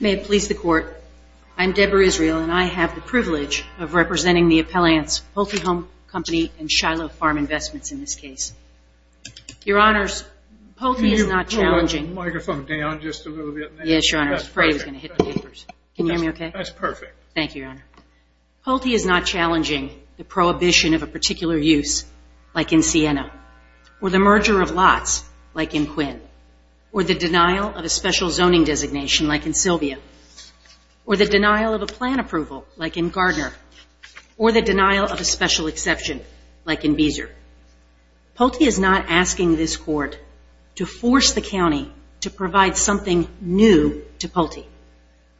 May it please the Court, I am Deborah Israel and I have the privilege of representing the appellants Pulte Home Company and Shiloh Farm Investments in this case. Your Honors, Pulte is not challenging the prohibition of a particular use, like in Siena, or the merger of lots, like in Quinn, or the denial of a special zoning designation, like in Sylvia, or the denial of a plan approval, like in Gardner, or the denial of a special exception, like in Beezer. Pulte is not asking this Court to force the County to provide something new to Pulte.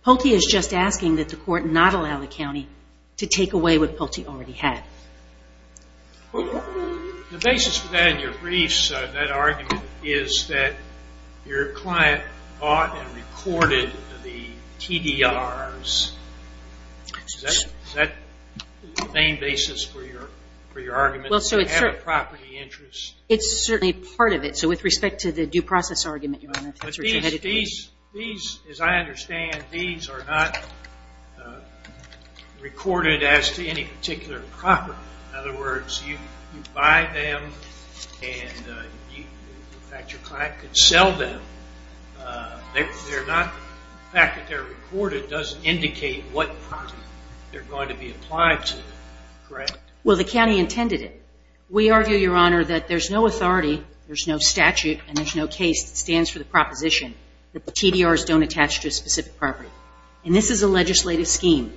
Pulte is just asking that the Court not allow the County to take away what Pulte already had. The basis for that in your briefs, that argument, is that your client bought and recorded the TDRs. Is that the main basis for your argument, that you have a property interest? It's certainly part of it. So with respect to the due process argument, Your Honor, that's where you're headed with it. These, as I understand, these are not recorded as to any particular property. In other words, you buy them, and in fact, your client could sell them. The fact that they're recorded doesn't indicate what property they're going to be applied to, correct? Well, the County intended it. We argue, Your Honor, that there's no authority, there's no statute, and there's no case that stands for the proposition. That the TDRs don't attach to a specific property. And this is a legislative scheme.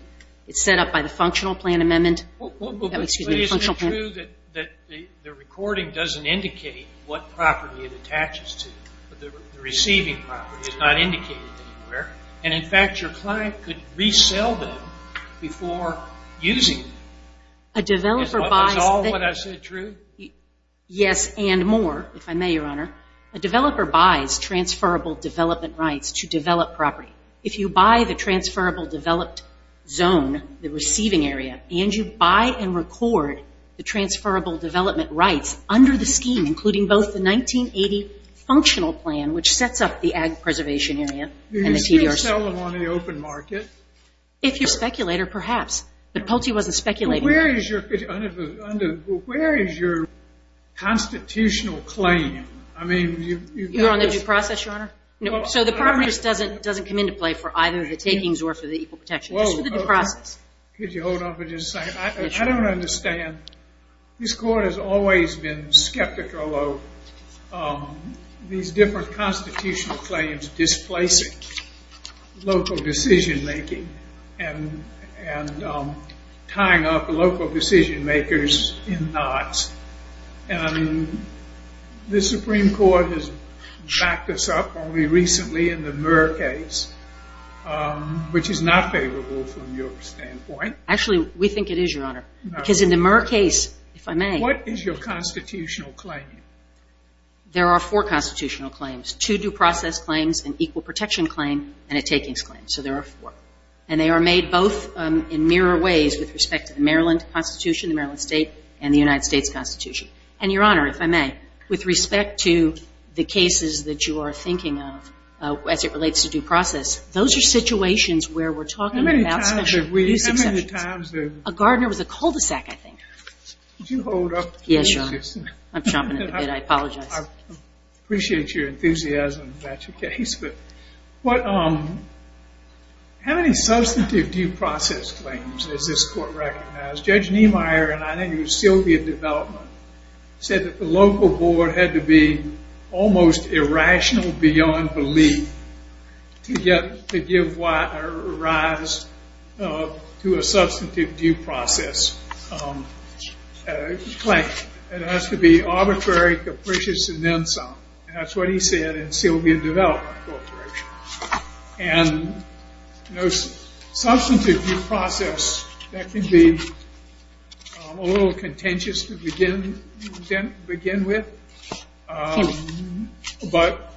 It's set up by the Functional Plan Amendment, excuse me, the Functional Plan Amendment. But isn't it true that the recording doesn't indicate what property it attaches to, but the receiving property is not indicated anywhere, and in fact, your client could resell them before using them. Is all of what I said true? Yes, and more, if I may, Your Honor. A developer buys transferable development rights to develop property. If you buy the transferable developed zone, the receiving area, and you buy and record the transferable development rights under the scheme, including both the 1980 Functional Plan, which sets up the Ag Preservation Area, and the TDRs. Do you still sell them on the open market? If you're a speculator, perhaps, but Pulte wasn't speculating. Where is your constitutional claim? You're on the due process, Your Honor? So the property just doesn't come into play for either the takings or for the equal protection? Just for the due process? Could you hold on for just a second? I don't understand. This Court has always been skeptical of these different constitutional claims displacing local decision-making and tying up local decision-makers in knots. And the Supreme Court has backed us up only recently in the Murr case, which is not favorable from your standpoint. Actually, we think it is, Your Honor. Because in the Murr case, if I may... What is your constitutional claim? There are four constitutional claims. Two due process claims, an equal protection claim, and a takings claim. So there are four. And they are made both in mirror ways with respect to the Maryland Constitution, the Maryland State, and the United States Constitution. And, Your Honor, if I may, with respect to the cases that you are thinking of as it relates to due process, those are situations where we're talking about special use exceptions. How many times have we... A gardener was a cul-de-sac, I think. Could you hold up? Yes, Your Honor. I'm chomping at the bit. I apologize. I appreciate your enthusiasm about your case. But how many substantive due process claims does this court recognize? Judge Niemeyer, and I think it was Sylvia Development, said that the local board had to be almost irrational beyond belief to give rise to a substantive due process claim. It has to be arbitrary, capricious, and then some. And that's what he said in Sylvia Development Corporation. And no substantive due process, that can be a little contentious to begin with. But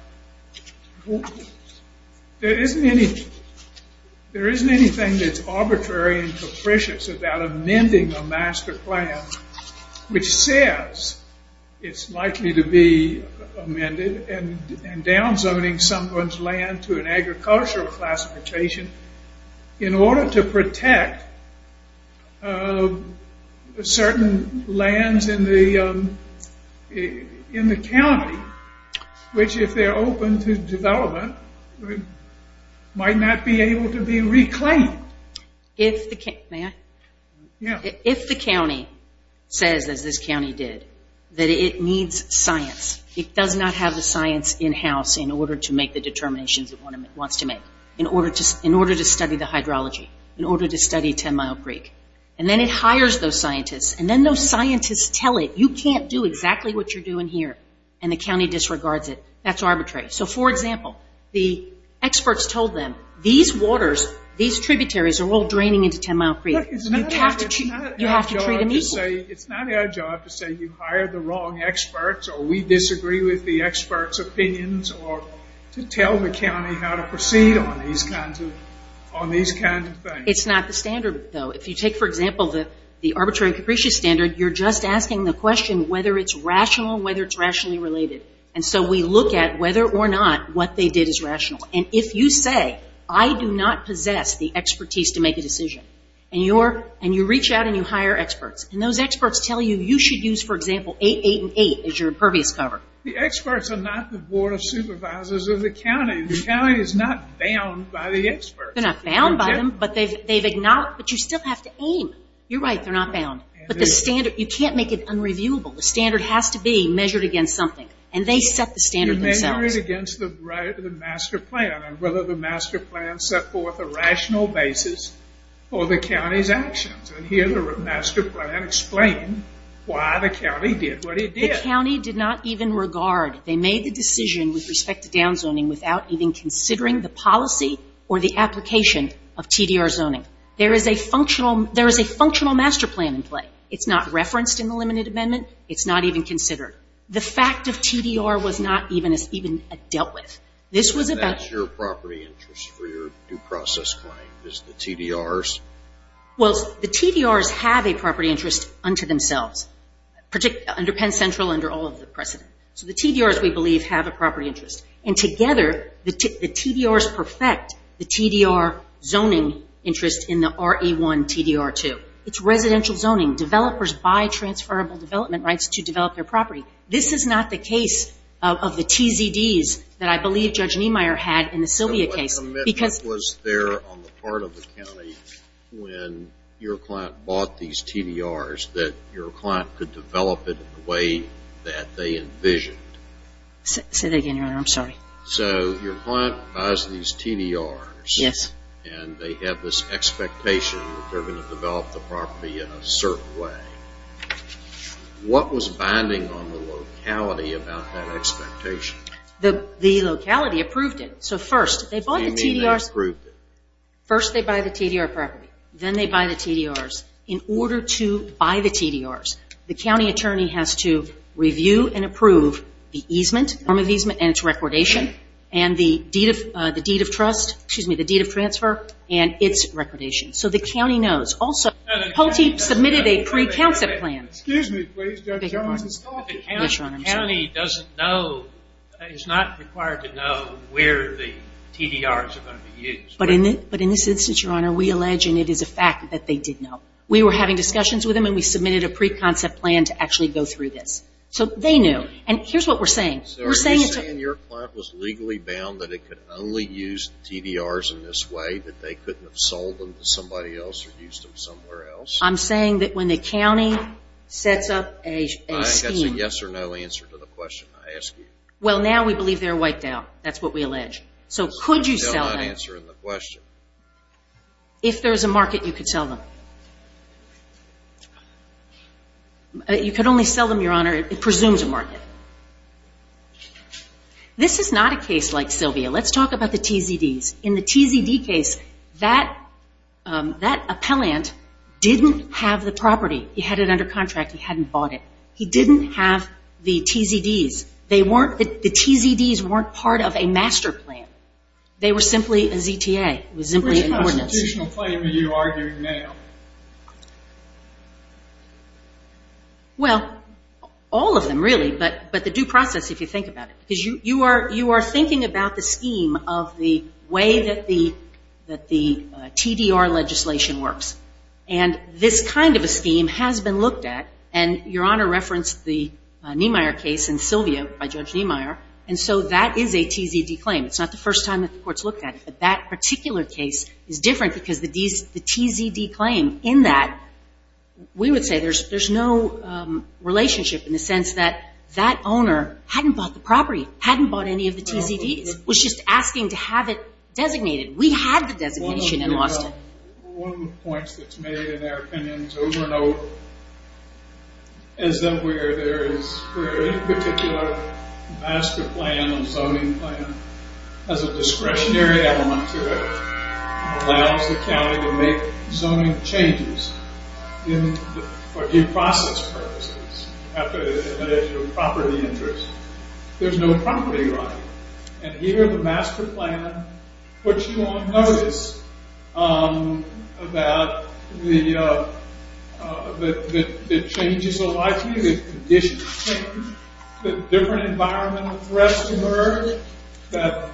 there isn't anything that's arbitrary and capricious about amending a master plan which says it's likely to be amended and down zoning someone's land to an agricultural classification in order to protect certain lands in the county, which if they're open to development, might not be able to be reclaimed. If the county says, as this county did, that it needs science, it does not have the science in-house in order to make the determinations it wants to make, in order to study the hydrology, in order to study Ten Mile Creek, and then it hires those scientists, and then those scientists tell it, you can't do exactly what you're doing here, and the county disregards it, that's arbitrary. So, for example, the experts told them, these waters, these tributaries are all draining into Ten Mile Creek. You have to treat them equally. It's not our job to say you hired the wrong experts, or we disagree with the experts' opinions, or to tell the county how to proceed on these kinds of things. It's not the standard, though. If you take, for example, the arbitrary and capricious standard, you're just asking the question whether it's rational, whether it's rationally related. And so we look at whether or not what they did is rational. And if you say, I do not possess the expertise to make a decision, and you reach out and you hire experts, and those experts tell you, you should use, for example, 888 as your impervious cover. The experts are not the Board of Supervisors of the county. The county is not bound by the experts. They're not bound by them, but you still have to aim. You're right, they're not bound. But the standard, you can't make it unreviewable. The standard has to be measured against something. And they set the standard themselves. You measure it against the master plan and whether the master plan set forth a rational basis for the county's actions. And here the master plan explained why the county did what it did. The county did not even regard, they made the decision with respect to downzoning without even considering the policy or the application of TDR zoning. There is a functional master plan in play. It's not referenced in the limited amendment. It's not even considered. The fact of TDR was not even dealt with. So that's your property interest for your due process claim, is the TDRs? Well, the TDRs have a property interest unto themselves, under Penn Central, under all of the precedent. So the TDRs, we believe, have a property interest. And together, the TDRs perfect the TDR zoning interest in the RE-1 TDR-2. It's residential zoning. Developers buy transferable development rights to develop their property. This is not the case of the TZDs that I believe Judge Niemeyer had in the Sylvia case. But what commitment was there on the part of the county when your client bought these TDRs that your client could develop it in the way that they envisioned? Say that again, Your Honor. I'm sorry. So your client buys these TDRs. Yes. And they have this expectation that they're going to develop the property in a certain way. What was binding on the locality about that expectation? The locality approved it. So first, they bought the TDRs. What do you mean they approved it? First, they buy the TDR property. Then they buy the TDRs. In order to buy the TDRs, the county attorney has to review and approve the transfer and its recordation. So the county knows. Also, Poteet submitted a pre-concept plan. Excuse me, please, Judge Jones. The county doesn't know, is not required to know where the TDRs are going to be used. But in this instance, Your Honor, we allege, and it is a fact, that they did know. We were having discussions with them, and we submitted a pre-concept plan to actually go through this. So they knew. And here's what we're saying. So are you saying your client was legally bound that it could only use TDRs in this way, that they couldn't have sold them to somebody else or used them somewhere else? I'm saying that when the county sets up a scheme. I think that's a yes or no answer to the question I ask you. Well, now we believe they're wiped out. That's what we allege. So could you sell them? That's not an answer to the question. You could only sell them, Your Honor. It presumes a market. This is not a case like Sylvia. Let's talk about the TZDs. In the TZD case, that appellant didn't have the property. He had it under contract. He hadn't bought it. He didn't have the TZDs. The TZDs weren't part of a master plan. They were simply a ZTA. It was simply an ordinance. Which constitutional claim are you arguing now? Well, all of them, really. But the due process, if you think about it. Because you are thinking about the scheme of the way that the TDR legislation works. And this kind of a scheme has been looked at. And Your Honor referenced the Niemeyer case and Sylvia by Judge Niemeyer. And so that is a TZD claim. It's not the first time that the court's looked at it. But that particular case is different because the TZD claim in that. We would say there's no relationship in the sense that that owner hadn't bought the property. Hadn't bought any of the TZDs. Was just asking to have it designated. We had the designation and lost it. One of the points that's made in our opinion over and over. Is that where there is a particular master plan and zoning plan. As a discretionary element to it. Allows the county to make zoning changes. For due process purposes. After the initial property interest. There's no property right. And here the master plan puts you on notice. About the changes of life here. The conditions change. That different environmental threats emerge. That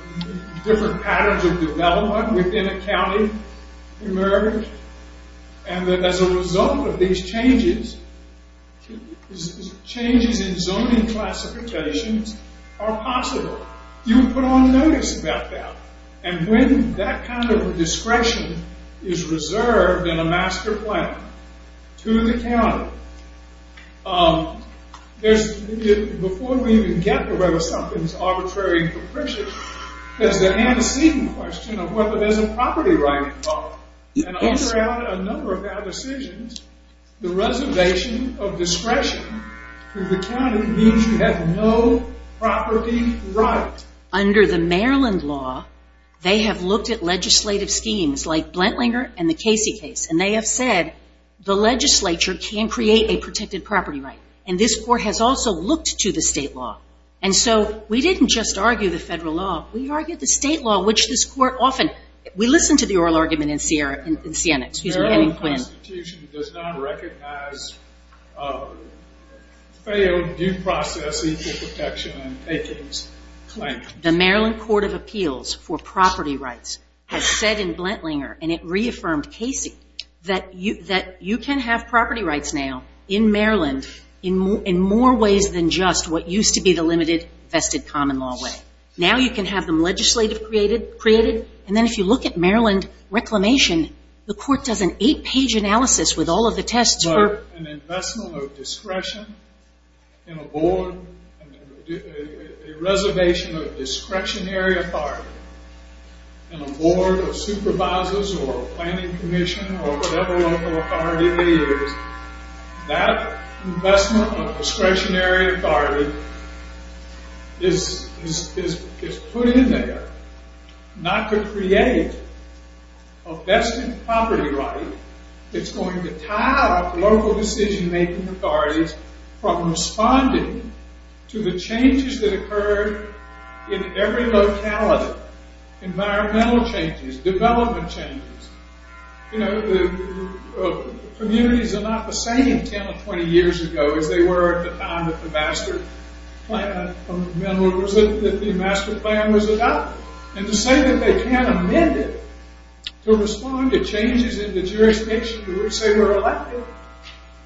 different patterns of development within a county emerge. And that as a result of these changes. Changes in zoning classifications are possible. You would put on notice about that. And when that kind of discretion is reserved in a master plan. To the county. Before we even get to whether something is arbitrary and capricious. There's the antecedent question of whether there's a property right involved. And under a number of our decisions. The reservation of discretion to the county means you have no property right. Under the Maryland law. They have looked at legislative schemes. Like Blantlinger and the Casey case. And they have said the legislature can create a protected property right. And this court has also looked to the state law. And so we didn't just argue the federal law. We argued the state law. Which this court often. We listen to the oral argument in Siena. The federal constitution does not recognize failed due process. Equal protection and takings claims. The Maryland court of appeals for property rights. Has said in Blantlinger. And it reaffirmed Casey. That you can have property rights now. In Maryland. In more ways than just what used to be the limited vested common law way. Now you can have them legislative created. And then if you look at Maryland reclamation. The court does an eight page analysis with all of the tests. An investment of discretion in a board. A reservation of discretionary authority. In a board of supervisors. Or a planning commission. Or whatever local authority it is. That investment of discretionary authority. Is put in there. Not to create. A vested property right. That's going to tie up local decision making authorities. From responding to the changes that occurred. In every locality. Environmental changes. Development changes. You know. Communities are not the same 10 or 20 years ago. As they were at the time that the master plan was adopted. And to say that they can't amend it. To respond to changes in the jurisdiction you would say were elected.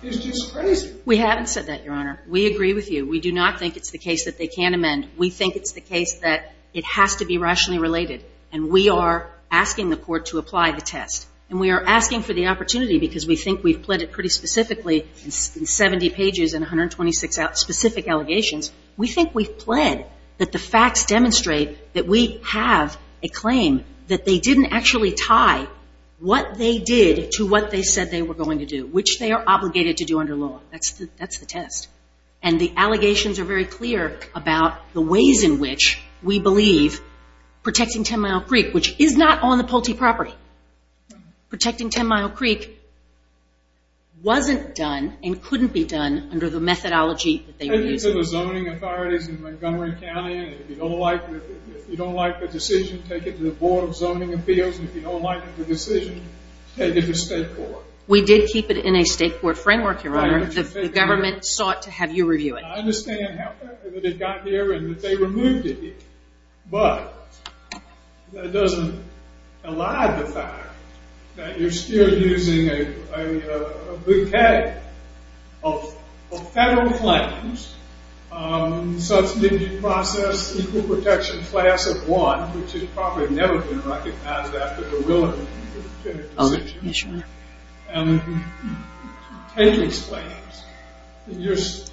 Is just crazy. We haven't said that your honor. We agree with you. We do not think it's the case that they can't amend. We think it's the case that it has to be rationally related. And we are asking the court to apply the test. And we are asking for the opportunity. Because we think we've pled it pretty specifically. In 70 pages and 126 specific allegations. We think we've pled that the facts demonstrate that we have a claim. That they didn't actually tie what they did to what they said they were going to do. Which they are obligated to do under law. That's the test. And the allegations are very clear about the ways in which we believe protecting 10 Mile Creek. Which is not on the Pulte property. Protecting 10 Mile Creek wasn't done. And couldn't be done under the methodology that they were using. Take it to the zoning authorities in Montgomery County. And if you don't like the decision, take it to the Board of Zoning Appeals. And if you don't like the decision, take it to state court. We did keep it in a state court framework, your honor. The government sought to have you review it. I understand how quickly they got here. And that they removed it. But that doesn't elide the fact that you're still using a bouquet of federal claims. Such as the process of equal protection class of one. Which has probably never been recognized after the Willard and Kennedy decisions. And taking these claims.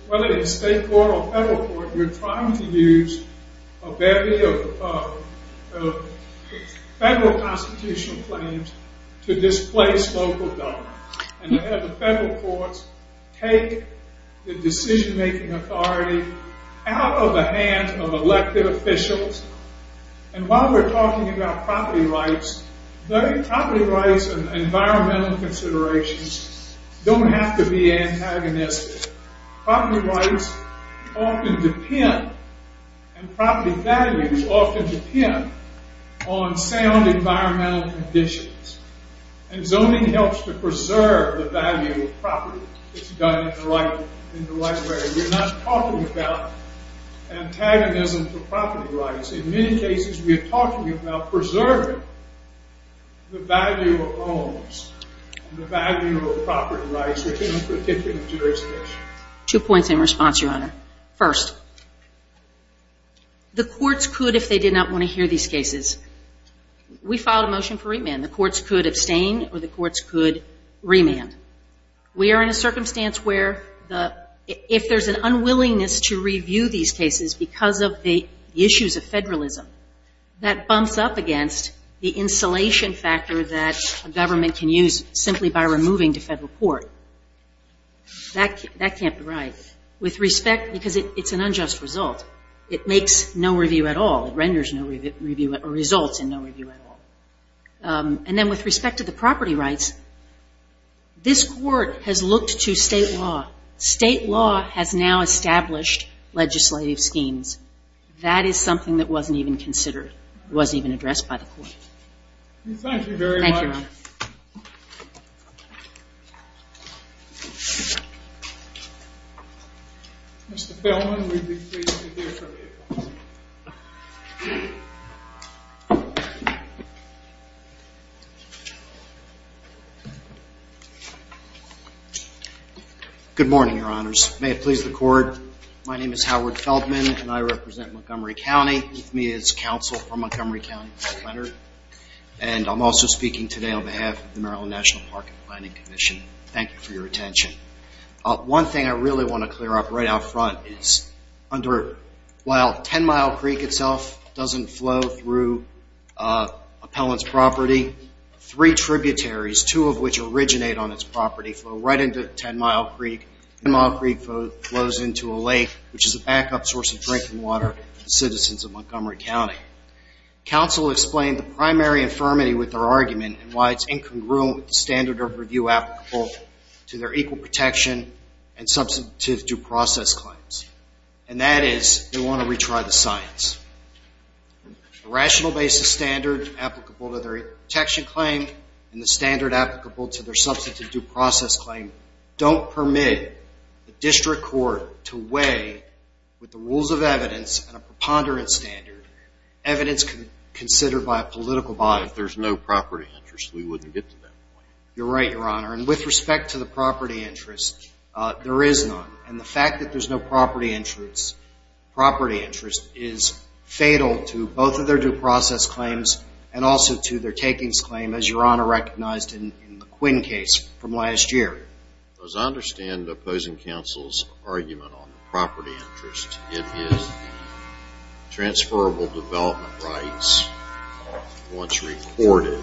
Whether it's state court or federal court. You're trying to use a bouquet of federal constitutional claims to displace local government. And to have the federal courts take the decision-making authority out of the hands of elected officials. And while we're talking about property rights. Property rights and environmental considerations don't have to be antagonistic. Property rights often depend and property values often depend on sound environmental conditions. And zoning helps to preserve the value of property. It's done in the right way. We're not talking about antagonism for property rights. In many cases we are talking about preserving the value of homes. The value of property rights within a particular jurisdiction. Two points in response, your honor. First, the courts could if they did not want to hear these cases. We filed a motion for remand. The courts could abstain or the courts could remand. We are in a circumstance where if there's an unwillingness to review these cases. Because of the issues of federalism. That bumps up against the insulation factor that a government can use simply by removing to federal court. That can't be right. With respect, because it's an unjust result. It makes no review at all. It renders no review or results in no review at all. And then with respect to the property rights. This court has looked to state law. State law has now established legislative schemes. That is something that wasn't even considered. Wasn't even addressed by the court. Thank you very much. Thank you, your honor. Mr. Feldman, we would be pleased to hear from you. Good morning, your honors. May it please the court. My name is Howard Feldman and I represent Montgomery County. With me is counsel for Montgomery County, Mark Leonard. And I'm also speaking today on behalf of the Maryland National Park and Planning Commission. Thank you for your attention. One thing I really want to clear up right out front is while Ten Mile Creek itself doesn't flow through appellant's property, three tributaries, two of which originate on its property, flow right into Ten Mile Creek. Ten Mile Creek flows into a lake, which is a backup source of drinking water for the citizens of Montgomery County. Counsel explained the primary infirmity with their argument and why it's incongruent with the standard of review applicable to their equal protection and substantive due process claims. And that is they want to retry the science. The rational basis standard applicable to their protection claim and the standard applicable to their substantive due process claim don't permit the district court to weigh, with the rules of evidence and a preponderance standard, evidence considered by a political body. If there's no property interest, we wouldn't get to that point. You're right, your honor. And with respect to the property interest, there is none. And the fact that there's no property interest is fatal to both of their due process claims and also to their takings claim, as your honor recognized in the Quinn case from last year. As I understand the opposing counsel's argument on the property interest, it is transferable development rights, once recorded,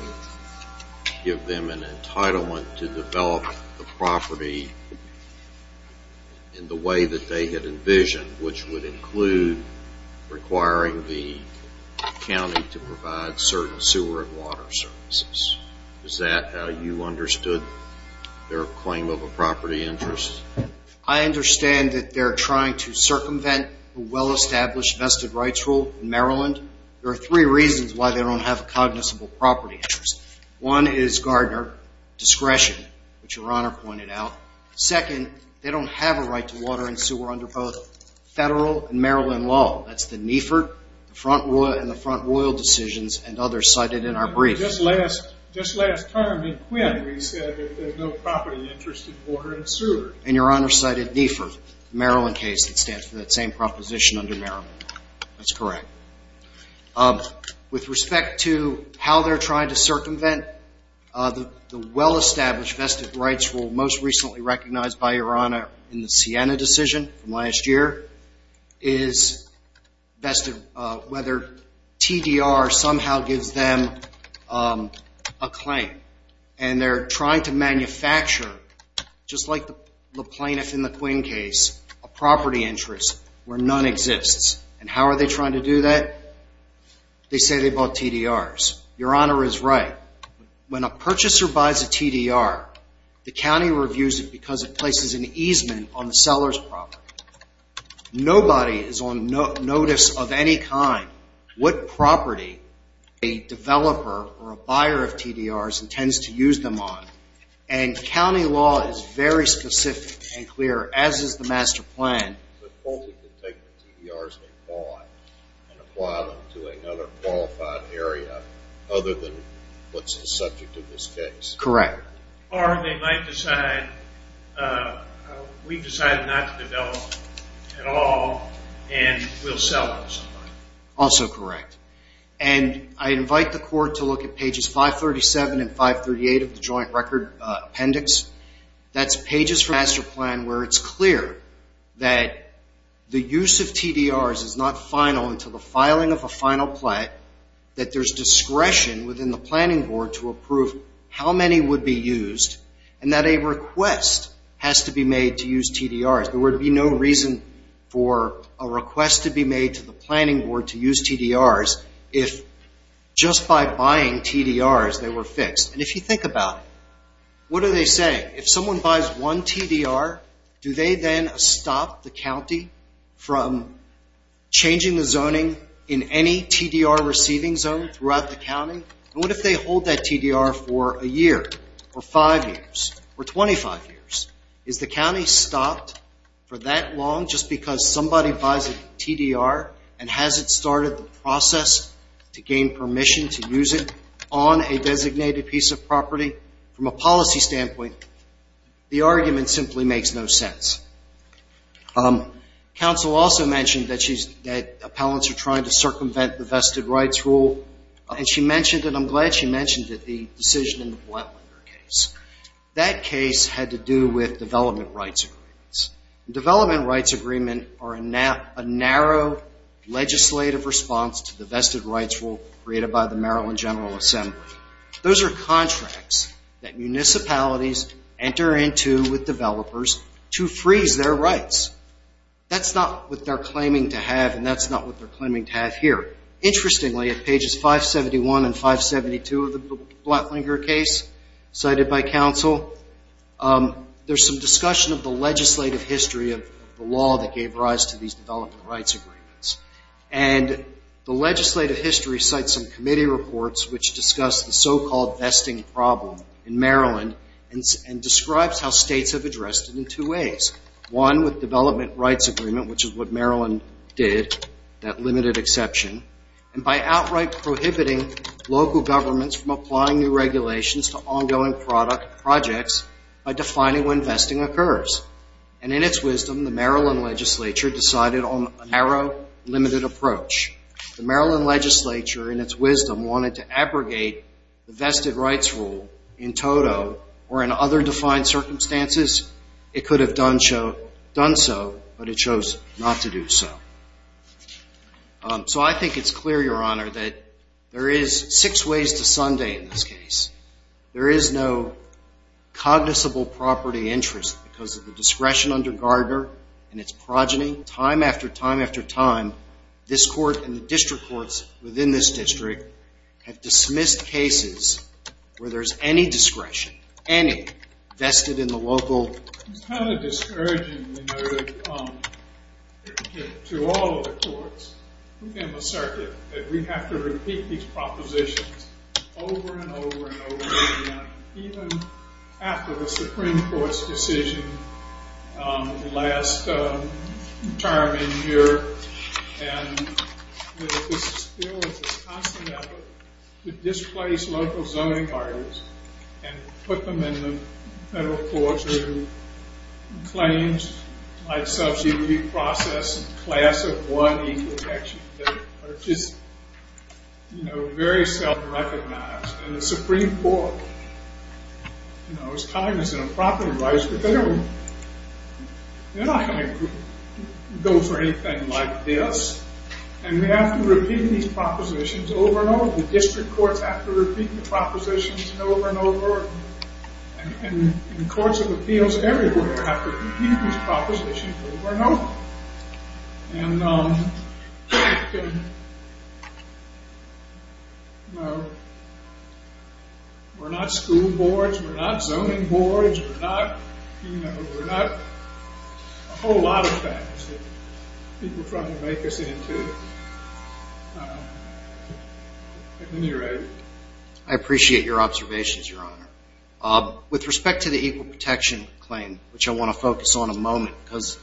give them an entitlement to develop the property in the way that they had envisioned, which would include requiring the county to provide certain sewer and water services. Is that how you understood their claim of a property interest? I understand that they're trying to circumvent a well-established vested rights rule in Maryland. There are three reasons why they don't have a cognizable property interest. One is Gardner discretion, which your honor pointed out. Second, they don't have a right to water and sewer under both federal and Maryland law. That's the NEFRT, the Front Royal and the Front Royal decisions, and others cited in our brief. Just last term in Quinn, we said that there's no property interest in water and sewer. And your honor cited NEFRT, the Maryland case that stands for that same proposition under Maryland. That's correct. With respect to how they're trying to circumvent the well-established vested rights rule, the most recently recognized by your honor in the Sienna decision from last year, is whether TDR somehow gives them a claim. And they're trying to manufacture, just like the plaintiff in the Quinn case, a property interest where none exists. And how are they trying to do that? They say they bought TDRs. Your honor is right. When a purchaser buys a TDR, the county reviews it because it places an easement on the seller's property. Nobody is on notice of any kind what property a developer or a buyer of TDRs intends to use them on. And county law is very specific and clear, as is the master plan. The county can take the TDRs they bought and apply them to another qualified area other than what's the subject of this case. Correct. Or they might decide, we've decided not to develop at all and we'll sell it. Also correct. And I invite the court to look at pages 537 and 538 of the joint record appendix. That's pages from the master plan where it's clear that the use of TDRs is not final until the filing of a final plate, that there's discretion within the planning board to approve how many would be used, and that a request has to be made to use TDRs. There would be no reason for a request to be made to the planning board to use TDRs if just by buying TDRs they were fixed. And if you think about it, what do they say? If someone buys one TDR, do they then stop the county from changing the zoning in any TDR receiving zone throughout the county? And what if they hold that TDR for a year or five years or 25 years? Is the county stopped for that long just because somebody buys a TDR and hasn't started the process to gain permission to use it on a designated piece of property? From a policy standpoint, the argument simply makes no sense. Counsel also mentioned that appellants are trying to circumvent the vested rights rule, and she mentioned, and I'm glad she mentioned it, the decision in the Blatlinger case. That case had to do with development rights agreements. Development rights agreements are a narrow legislative response to the vested rights rule created by the Maryland General Assembly. Those are contracts that municipalities enter into with developers to freeze their rights. That's not what they're claiming to have, and that's not what they're claiming to have here. Interestingly, at pages 571 and 572 of the Blatlinger case cited by counsel, there's some discussion of the legislative history of the law that gave rise to these development rights agreements. And the legislative history cites some committee reports which discuss the so-called vesting problem in Maryland and describes how states have addressed it in two ways. One, with development rights agreement, which is what Maryland did, that limited exception, and by outright prohibiting local governments from applying new regulations to ongoing projects by defining when vesting occurs. And in its wisdom, the Maryland legislature decided on a narrow, limited approach. The Maryland legislature, in its wisdom, wanted to abrogate the vested rights rule in toto or in other defined circumstances. It could have done so, but it chose not to do so. So I think it's clear, Your Honor, that there is six ways to Sunday in this case. There is no cognizable property interest because of the discretion under Gardner and its progeny. Time after time after time, this court and the district courts within this district have dismissed cases where there's any discretion, any, vested in the local... All of the courts within the circuit that we have to repeat these propositions over and over and over again, even after the Supreme Court's decision last term in here. And that this is still a constant effort to displace local zoning artists and put them in the federal courts who claims, like subsidy process, class of one equal protection. They're just very self-recognized. And the Supreme Court is cognizant of property rights, but they're not going to go for anything like this. And we have to repeat these propositions over and over. The district courts have to repeat the propositions over and over. And courts of appeals everywhere have to repeat these propositions over and over. And we're not school boards. We're not zoning boards. We're not a whole lot of things that people try to make us into. At any rate... I appreciate your observations, Your Honor. With respect to the equal protection claim, which I want to focus on a moment, because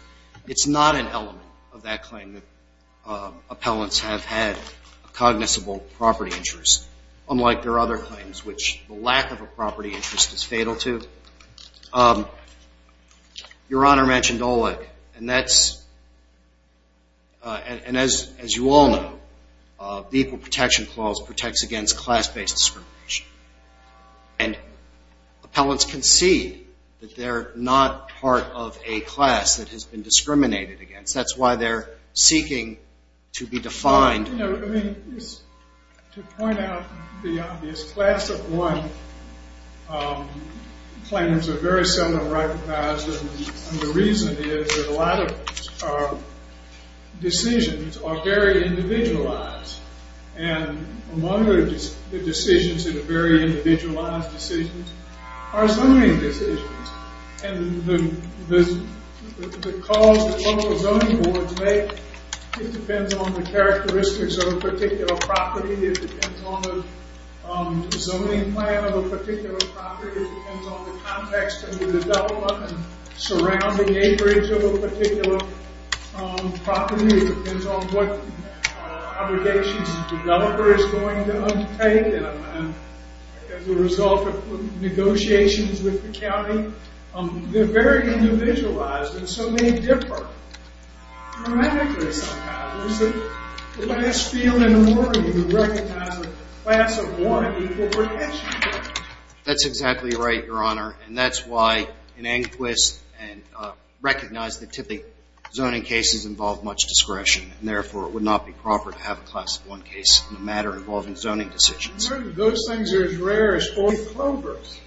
it's not an element of that claim that appellants have had a cognizable property interest, unlike their other claims, which the lack of a property interest is fatal to. Your Honor mentioned OLEC, and that's... And as you all know, the equal protection clause protects against class-based discrimination. And appellants concede that they're not part of a class that has been discriminated against. That's why they're seeking to be defined. I mean, to point out the obvious, class of one claims are very seldom recognized. And the reason is that a lot of decisions are very individualized. And among the decisions that are very individualized decisions are zoning decisions. And the calls that local zoning boards make, it depends on the characteristics of a particular property. It depends on the zoning plan of a particular property. It depends on the context of the development and surrounding acreage of a particular property. It depends on what obligations the developer is going to undertake. And as a result of negotiations with the county, they're very individualized. And so they differ dramatically somehow. It's the last field in the morning to recognize a class of one equal protection. That's exactly right, Your Honor. And that's why an inquest and recognize that typically zoning cases involve much discretion. And therefore, it would not be proper to have a class of one case in a matter involving zoning decisions. Those things are as rare as four clovers.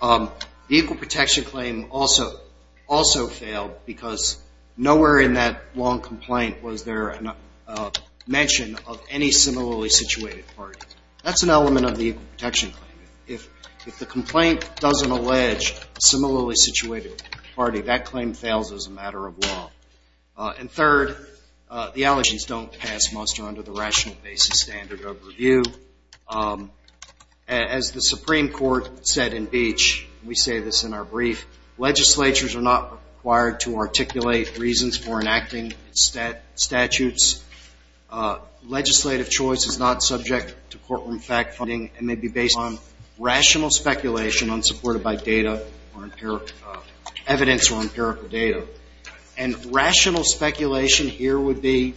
The equal protection claim also failed because nowhere in that long complaint was there a mention of any similarly situated party. That's an element of the equal protection claim. If the complaint doesn't allege a similarly situated party, that claim fails as a matter of law. And third, the allegations don't pass muster under the rational basis standard of review. As the Supreme Court said in Beach, we say this in our brief, legislatures are not required to articulate reasons for enacting statutes. Legislative choice is not subject to courtroom fact-finding and may be based on rational speculation unsupported by data or empirical evidence or empirical data. And rational speculation here would be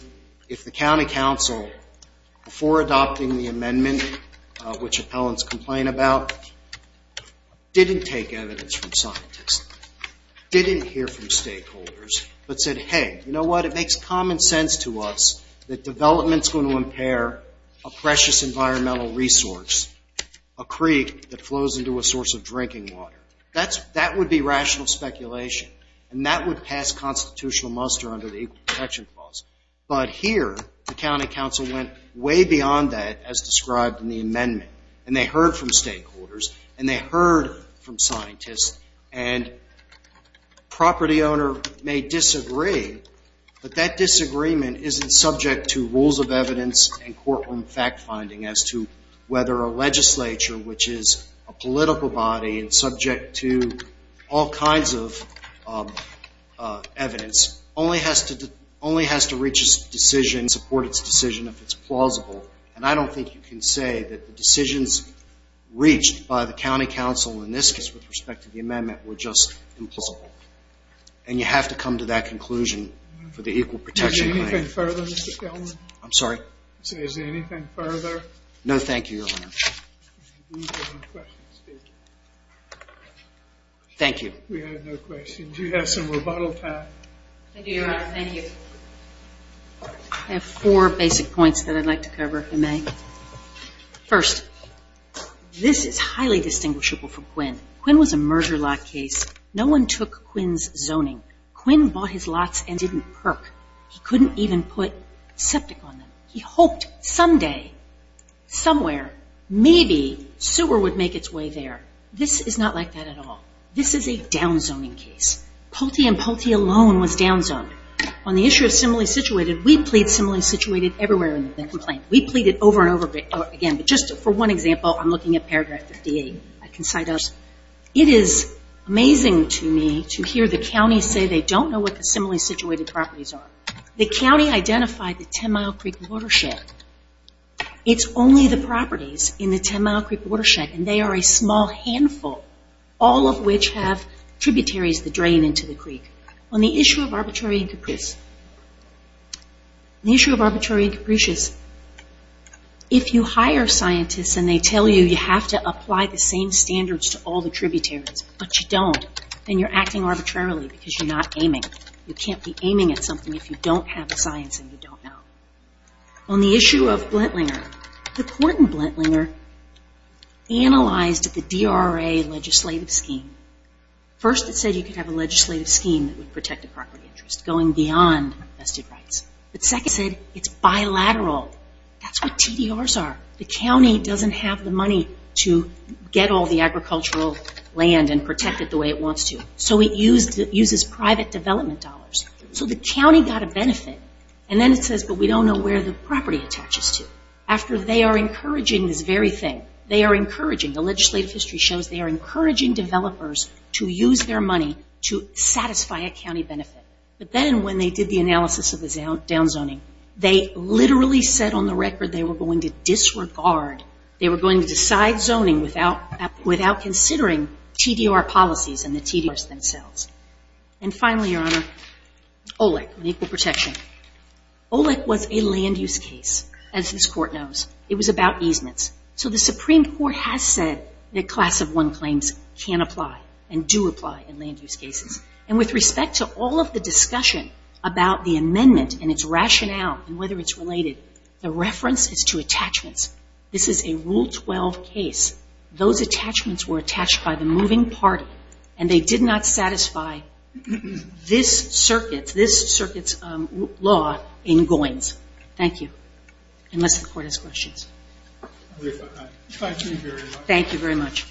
if the county council, before adopting the amendment, which appellants complain about, didn't take evidence from scientists, didn't hear from stakeholders, but said, hey, you know what? It makes common sense to us that development's going to impair a precious environmental resource, a creek that flows into a source of drinking water. That would be rational speculation, and that would pass constitutional muster under the equal protection clause. But here, the county council went way beyond that as described in the amendment, and property owner may disagree, but that disagreement isn't subject to rules of evidence and courtroom fact-finding as to whether a legislature, which is a political body and subject to all kinds of evidence, only has to reach a decision, support its decision if it's plausible. And I don't think you can say that the decisions reached by the county council in this case with respect to the amendment were just implausible. And you have to come to that conclusion for the equal protection claim. Is there anything further, Mr. Kellman? I'm sorry? Is there anything further? No, thank you, Your Honor. We have no questions. Thank you. We have no questions. You have some rebuttal time. Thank you, Your Honor. Thank you. I have four basic points that I'd like to cover, if I may. First, this is highly distinguishable from Quinn. Quinn was a merger lot case. No one took Quinn's zoning. Quinn bought his lots and didn't perk. He couldn't even put septic on them. He hoped someday, somewhere, maybe sewer would make its way there. This is not like that at all. This is a downzoning case. Pulte and Pulte alone was downzoned. On the issue of similarly situated, we plead similarly situated everywhere in the complaint. We plead it over and over again. But just for one example, I'm looking at paragraph 58. It is amazing to me to hear the counties say they don't know what the similarly situated properties are. The county identified the Ten Mile Creek Watershed. It's only the properties in the Ten Mile Creek Watershed, and they are a small handful, all of which have tributaries that drain into the creek. On the issue of arbitrary and capricious, if you hire scientists and they tell you you have to apply the same standards to all the tributaries, but you don't, then you're acting arbitrarily because you're not aiming. You can't be aiming at something if you don't have the science and you don't know. On the issue of Blentlinger, the court in Blentlinger analyzed the DRA legislative scheme. First, it said you could have a legislative scheme that would protect the property interest, going beyond vested rights. But second, it said it's bilateral. That's what TDRs are. The county doesn't have the money to get all the agricultural land and protect it the way it wants to. So it uses private development dollars. So the county got a benefit, and then it says, but we don't know where the property attaches to. After they are encouraging this very thing, they are encouraging, the legislative history shows they are encouraging developers to use their money to satisfy a county benefit. But then when they did the analysis of the downzoning, they literally said on the record they were going to disregard, they were going to decide zoning without considering TDR policies and the TDRs themselves. And finally, Your Honor, OLEC, equal protection. OLEC was a land use case, as this court knows. It was about easements. So the Supreme Court has said that Class of 1 claims can apply and do apply in land use cases. And with respect to all of the discussion about the amendment and its rationale and whether it's related, the reference is to attachments. This is a Rule 12 case. Those attachments were attached by the moving party, and they did not satisfy this circuit's law in Goins. Thank you. Unless the Court has questions. Thank you very much. Thank you very much.